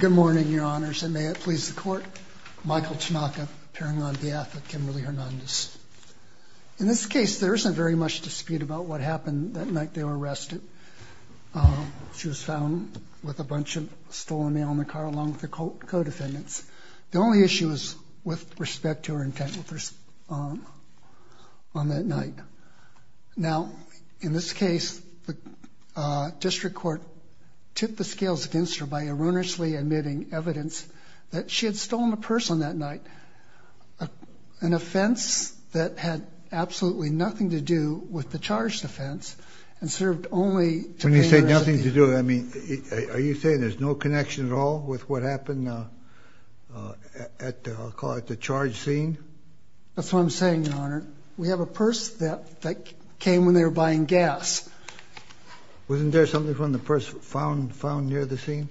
Good morning, Your Honors, and may it please the Court, Michael Tanaka appearing on behalf of Kimberly Hernandez. In this case, there isn't very much dispute about what happened that night they were arrested. She was found with a bunch of stolen mail in the car along with her co-defendants. The only issue is with respect to her intent on that night. Now, in this case, the District Court tipped the scales against her by erroneously admitting evidence that she had stolen a purse on that night, an offense that had absolutely nothing to do with the charged offense and served only to pay her... When you say nothing to do, I mean, are you saying there's no connection at all with what happened at the, I'll call it the charge scene? That's what I'm saying, Your Honor. We have a purse that came when they were buying gas. Wasn't there something from the purse found near the scene?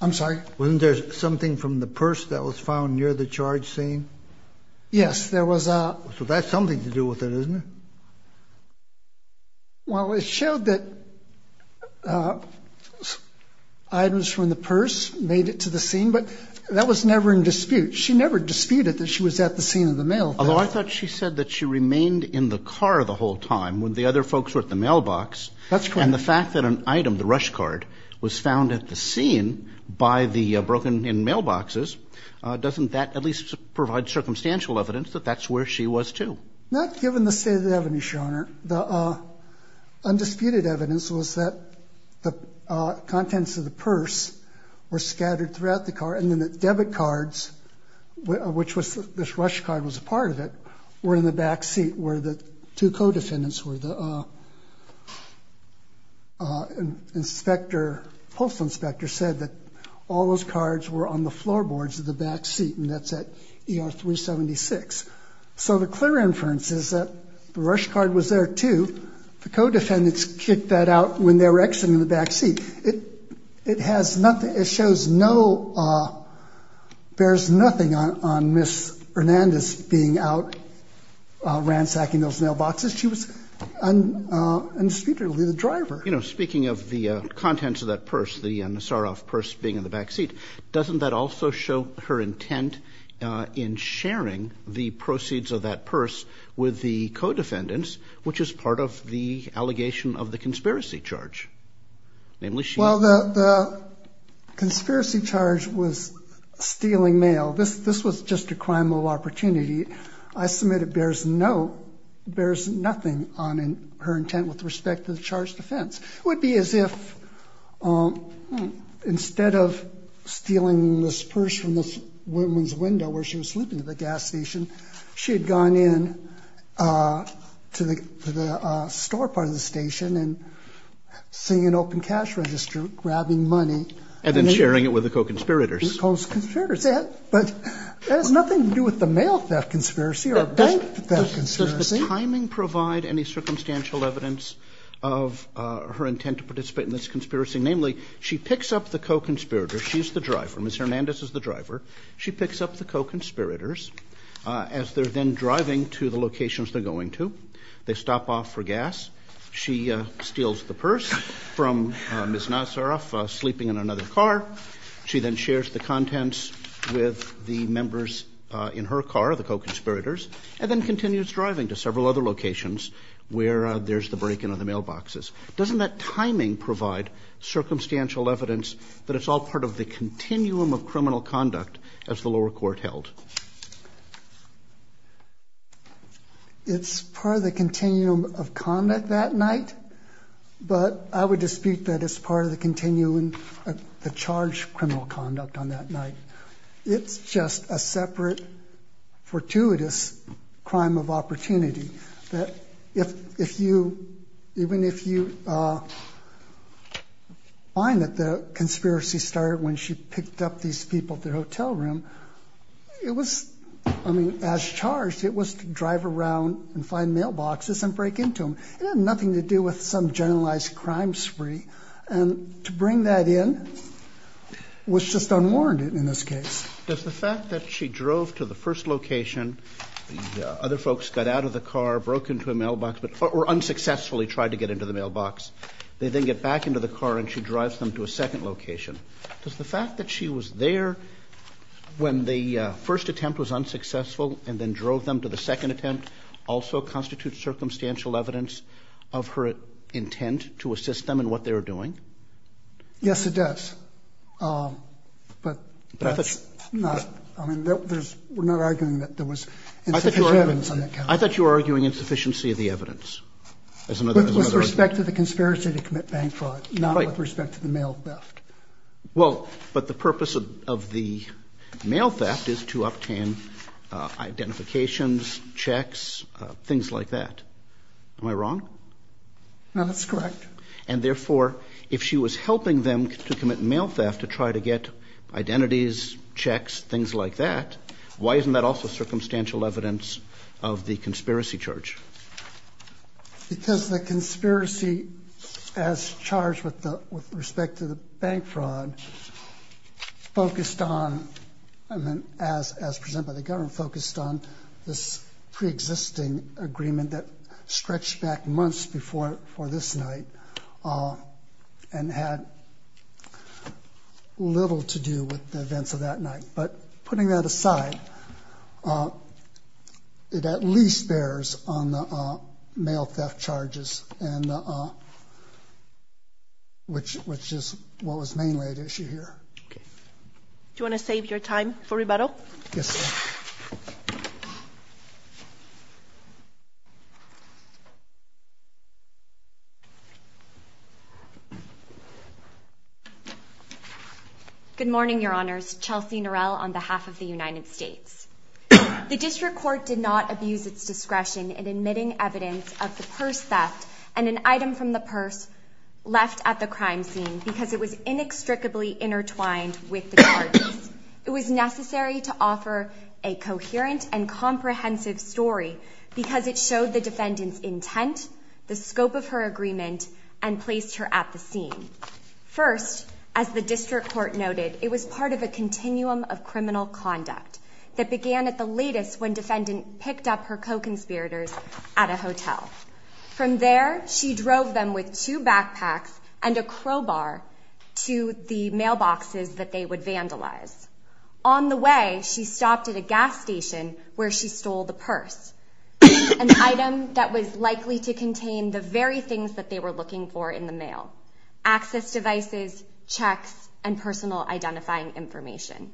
I'm sorry? Wasn't there something from the purse that was found near the charge scene? Yes, there was a... So that's something to do with it, isn't it? Well, it showed that items from the purse made it to the scene, but that was never in dispute. She never disputed that she was at the scene of the mail theft. Although I thought she said that she remained in the car the whole time when the other folks were at the mailbox. That's correct. And the fact that an item, the rush card, was found at the scene by the broken-in mailboxes, doesn't that at least provide circumstantial evidence that that's where she was, too? Not given the state of the evidence, Your Honor. The undisputed evidence was that the contents of the purse were scattered throughout the car, and then the debit cards, which this rush card was a part of it, were in the back seat where the two co-defendants were. The post inspector said that all those cards were on the floorboards of the back seat, and that's at ER 376. So the clear inference is that the rush card was there, too. The co-defendants kicked that out when they were exiting the back seat. It has nothing, it shows no, bears nothing on Ms. Hernandez being out ransacking those mailboxes. She was undisputedly the driver. You know, speaking of the contents of that purse, the Nassaroff purse being in the back seat, doesn't that also show her intent in sharing the proceeds of that purse with the co-defendants, which is part of the allegation of the conspiracy charge? Well, the conspiracy charge was stealing mail. This was just a crime of opportunity. I submit it bears no, bears nothing on her intent with respect to the charged offense. It would be as if instead of stealing this purse from this woman's window where she was sleeping at the gas station, she had gone in to the store part of the station and seen an open cash register grabbing money. And then sharing it with the co-conspirators. The co-conspirators. But that has nothing to do with the mail theft conspiracy or bank theft conspiracy. Does the timing provide any circumstantial evidence of her intent to participate in this conspiracy? Namely, she picks up the co-conspirators. She's the driver. Ms. Hernandez is the driver. She picks up the co-conspirators as they're then driving to the locations they're going to. They stop off for gas. She steals the purse from Ms. Nassaroff sleeping in another car. She then shares the contents with the members in her car, the co-conspirators, and then continues driving to several other locations where there's the break in of the mailboxes. Doesn't that timing provide circumstantial evidence that it's all part of the continuum of criminal conduct as the lower court held? It's part of the continuum of conduct that night. But I would dispute that it's part of the continuum of the charged criminal conduct on that night. It's just a separate, fortuitous crime of opportunity. Even if you find that the conspiracy started when she picked up these people at the hotel room, it was, I mean, as charged, it was to drive around and find mailboxes and break into them. It had nothing to do with some generalized crime spree. And to bring that in was just unwarranted in this case. Does the fact that she drove to the first location, the other folks got out of the car, broke into a mailbox or unsuccessfully tried to get into the mailbox, they then get back into the car and she drives them to a second location, does the fact that she was there when the first attempt was unsuccessful and then drove them to the second attempt also constitute circumstantial evidence of her intent to assist them in what they were doing? Yes, it does. But that's not, I mean, we're not arguing that there was insufficient evidence on that count. I thought you were arguing insufficiency of the evidence as another argument. With respect to the conspiracy to commit bank fraud, not with respect to the mail theft. Well, but the purpose of the mail theft is to obtain identifications, checks, things like that. Am I wrong? No, that's correct. And therefore, if she was helping them to commit mail theft to try to get identities, checks, things like that, why isn't that also circumstantial evidence of the conspiracy charge? Because the conspiracy as charged with respect to the bank fraud focused on, as presented by the government, focused on this pre-existing agreement that stretched back months before this night and had little to do with the events of that night. But putting that aside, it at least bears on the mail theft charges, which is what was mainly at issue here. Do you want to save your time for rebuttal? Yes, ma'am. Good morning, Your Honors. Chelsea Norell on behalf of the United States. The district court did not abuse its discretion in admitting evidence of the purse theft and an item from the purse left at the crime scene because it was inextricably intertwined with the charges. It was necessary to offer a coherent and comprehensive story because it showed the defendant's intent, the scope of her agreement, and placed her at the scene. First, as the district court noted, it was part of a continuum of criminal conduct that began at the latest when defendant picked up her co-conspirators at a hotel. From there, she drove them with two backpacks and a crowbar to the mailboxes that they would vandalize. On the way, she stopped at a gas station where she stole the purse, an item that was likely to contain the very things that they were looking for in the mail, access devices, checks, and personal identifying information.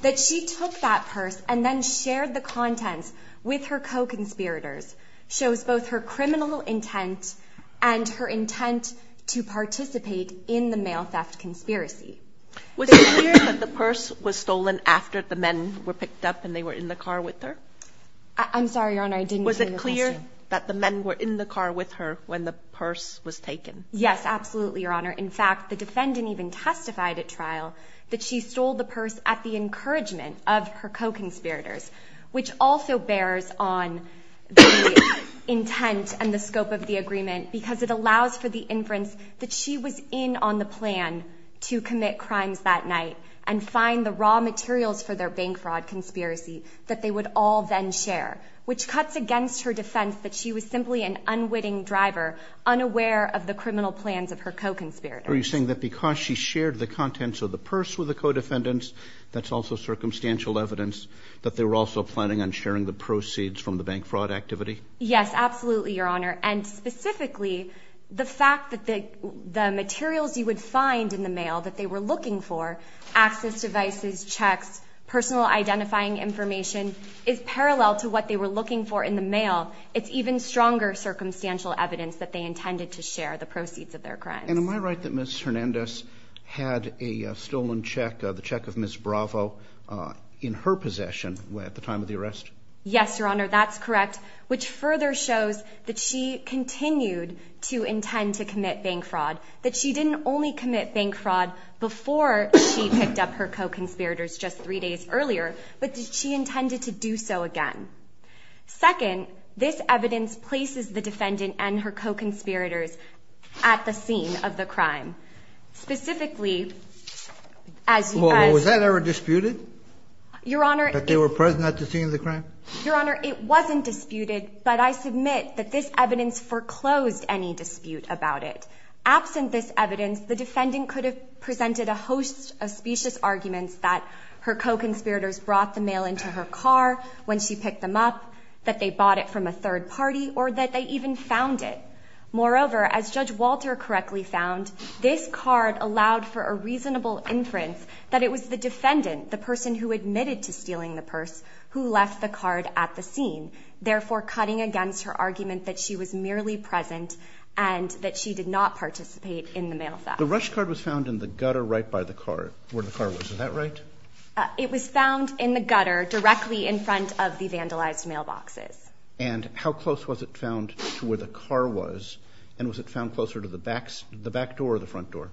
That she took that purse and then shared the contents with her co-conspirators shows both her criminal intent and her intent to participate in the mail theft conspiracy. Was it clear that the purse was stolen after the men were picked up and they were in the car with her? I'm sorry, Your Honor, I didn't hear the question. Was it clear that the men were in the car with her when the purse was taken? Yes, absolutely, Your Honor. In fact, the defendant even testified at trial that she stole the purse at the encouragement of her co-conspirators, which also bears on the intent and the scope of the agreement because it allows for the inference that she was in on the plan to commit crimes that night and find the raw materials for their bank fraud conspiracy that they would all then share, which cuts against her defense that she was simply an unwitting driver, unaware of the criminal plans of her co-conspirators. Are you saying that because she shared the contents of the purse with the co-defendants, that's also circumstantial evidence that they were also planning on sharing the proceeds from the bank fraud activity? Yes, absolutely, Your Honor. And specifically, the fact that the materials you would find in the mail that they were looking for, access devices, checks, personal identifying information, is parallel to what they were looking for in the mail. It's even stronger circumstantial evidence that they intended to share the proceeds of their crimes. And am I right that Ms. Hernandez had a stolen check, the check of Ms. Bravo, in her possession at the time of the arrest? Yes, Your Honor, that's correct, which further shows that she continued to intend to commit bank fraud, that she didn't only commit bank fraud before she picked up her co-conspirators just three days earlier, but that she intended to do so again. Second, this evidence places the defendant and her co-conspirators at the scene of the crime. Specifically, as you asked – Was that ever disputed? Your Honor – That they were present at the scene of the crime? Your Honor, it wasn't disputed, but I submit that this evidence foreclosed any dispute about it. Absent this evidence, the defendant could have presented a host of specious arguments that her co-conspirators brought the mail into her car when she picked them up, that they bought it from a third party, or that they even found it. Moreover, as Judge Walter correctly found, this card allowed for a reasonable inference that it was the defendant, the person who admitted to stealing the purse, who left the card at the scene, therefore cutting against her argument that she was merely present and that she did not participate in the mail theft. The rush card was found in the gutter right by the car, where the car was. Is that right? It was found in the gutter, directly in front of the vandalized mailboxes. And how close was it found to where the car was? And was it found closer to the back door or the front door?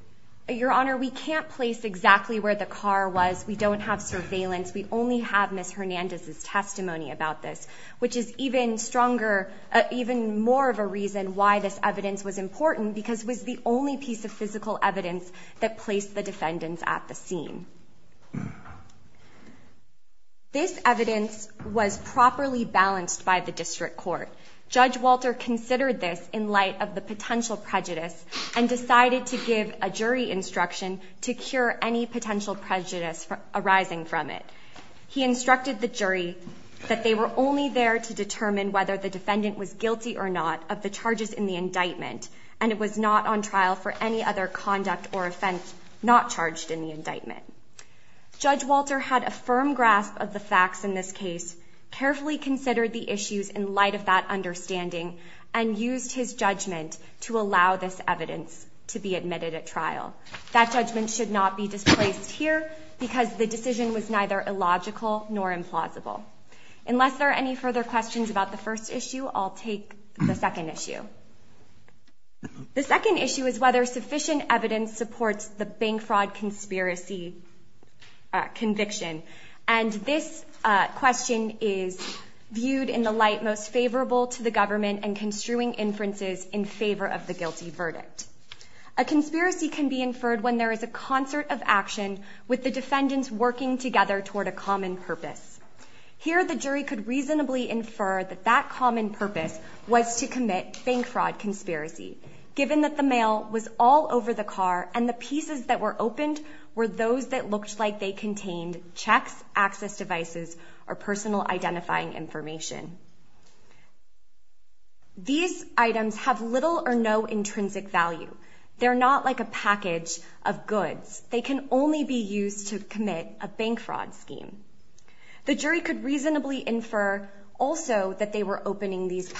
Your Honor, we can't place exactly where the car was. We don't have surveillance. We only have Ms. Hernandez's testimony about this, which is even stronger, even more of a reason why this evidence was important, because it was the only piece of physical evidence that placed the defendants at the scene. This evidence was properly balanced by the District Court. Judge Walter considered this in light of the potential prejudice and decided to give a jury instruction to cure any potential prejudice arising from it. He instructed the jury that they were only there to determine whether the defendant was guilty or not of the charges in the indictment, and it was not on trial for any other conduct or offense not charged in the indictment. Judge Walter had a firm grasp of the facts in this case, carefully considered the issues in light of that understanding, and used his judgment to allow this evidence to be admitted at trial. That judgment should not be displaced here because the decision was neither illogical nor implausible. Unless there are any further questions about the first issue, I'll take the second issue. The second issue is whether sufficient evidence supports the bank fraud conspiracy conviction. This question is viewed in the light most favorable to the government and construing inferences in favor of the guilty verdict. A conspiracy can be inferred when there is a concert of action with the defendants working together toward a common purpose. Here, the jury could reasonably infer that that common purpose was to commit bank fraud conspiracy, given that the mail was all over the car and the pieces that were opened were those that looked like they contained checks, access devices, or personal identifying information. These items have little or no intrinsic value. They're not like a package of goods. They can only be used to commit a bank fraud scheme. The jury could reasonably infer also that they were opening these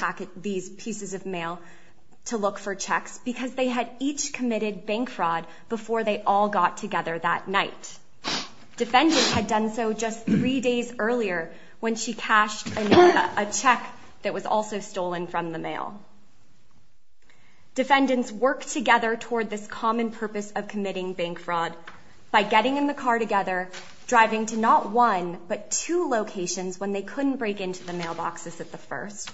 pieces of mail to look for checks because they had each committed bank fraud before they all got together that night. Defendants had done so just three days earlier when she cashed a check that was also stolen from the mail. Defendants worked together toward this common purpose of committing bank fraud by getting in the car together, driving to not one but two locations when they couldn't break into the mailboxes at the first,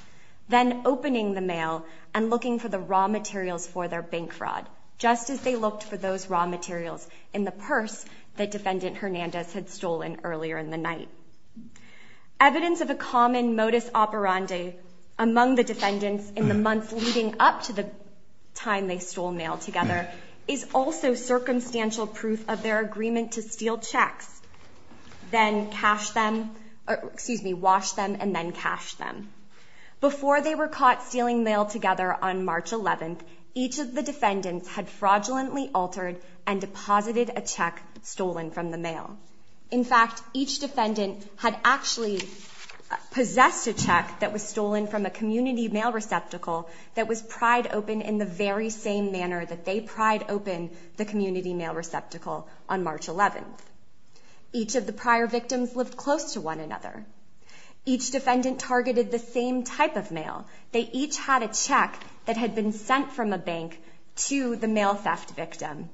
then opening the mail and looking for the raw materials for their bank fraud, just as they looked for those raw materials in the purse that Defendant Hernandez had stolen earlier in the night. Evidence of a common modus operandi among the defendants in the months leading up to the time they stole mail together is also circumstantial proof of their agreement to steal checks, then wash them and then cash them. Before they were caught stealing mail together on March 11th, each of the defendants had fraudulently altered and deposited a check stolen from the mail. In fact, each defendant had actually possessed a check that was stolen from a community mail receptacle that was pried open in the very same manner that they pried open the community mail receptacle on March 11th. Each of the prior victims lived close to one another. Each defendant targeted the same type of mail. They each had a check that had been sent from a bank to the mail theft victim.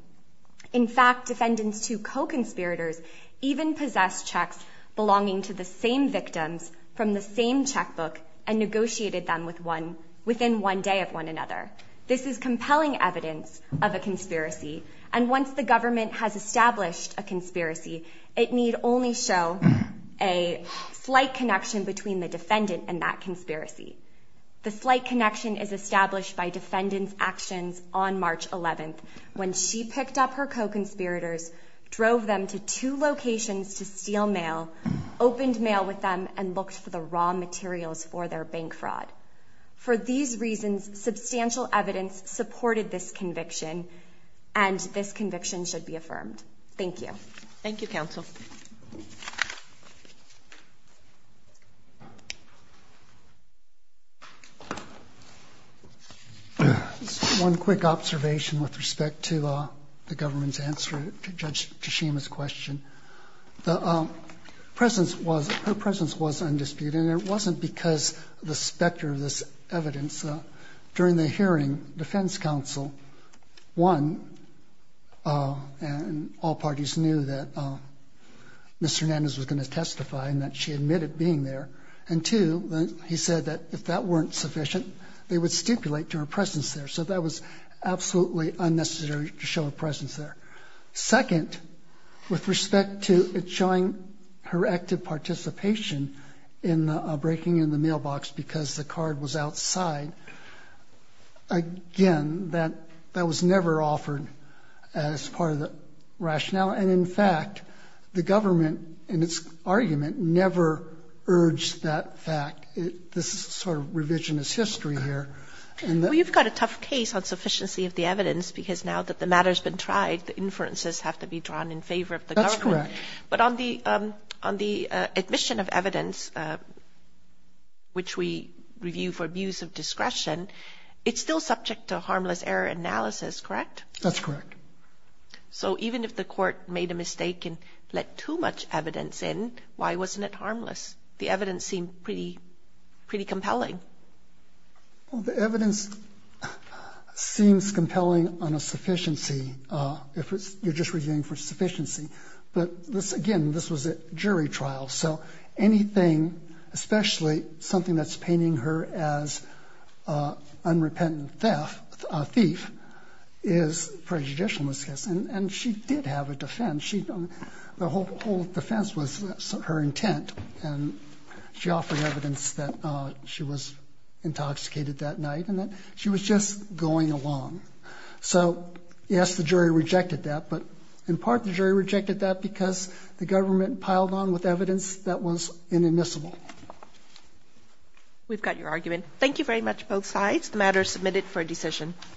In fact, defendants' two co-conspirators even possessed checks belonging to the same victims from the same checkbook and negotiated them within one day of one another. This is compelling evidence of a conspiracy, and once the government has established a conspiracy, it need only show a slight connection between the defendant and that conspiracy. The slight connection is established by defendant's actions on March 11th when she picked up her co-conspirators, drove them to two locations to steal mail, opened mail with them, and looked for the raw materials for their bank fraud. For these reasons, substantial evidence supported this conviction, and this conviction should be affirmed. Thank you. Thank you, counsel. One quick observation with respect to the government's answer to Judge Tashima's question. Her presence was undisputed, and it wasn't because of the specter of this evidence. During the hearing, defense counsel, one, and all parties knew that Mr. Hernandez was going to testify and that she admitted being there, and two, he said that if that weren't sufficient, they would stipulate to her presence there. So that was absolutely unnecessary to show her presence there. Second, with respect to it showing her active participation in breaking in the mailbox because the card was outside, again, that was never offered as part of the rationale. And, in fact, the government, in its argument, never urged that fact. This is sort of revisionist history here. Well, you've got a tough case on sufficiency of the evidence because now that the matter's been tried, the inferences have to be drawn in favor of the government. That's correct. But on the admission of evidence, which we review for abuse of discretion, it's still subject to harmless error analysis, correct? That's correct. So even if the court made a mistake and let too much evidence in, why wasn't it harmless? The evidence seemed pretty compelling. Well, the evidence seems compelling on a sufficiency if you're just reviewing for sufficiency. But, again, this was a jury trial, so anything, especially something that's painting her as an unrepentant thief is prejudicial in this case. And she did have a defense. The whole defense was her intent, and she offered evidence that she was intoxicated that night and that she was just going along. So, yes, the jury rejected that, but in part the jury rejected that because the government piled on with evidence that was inadmissible. We've got your argument. Thank you very much, both sides. The matter is submitted for a decision.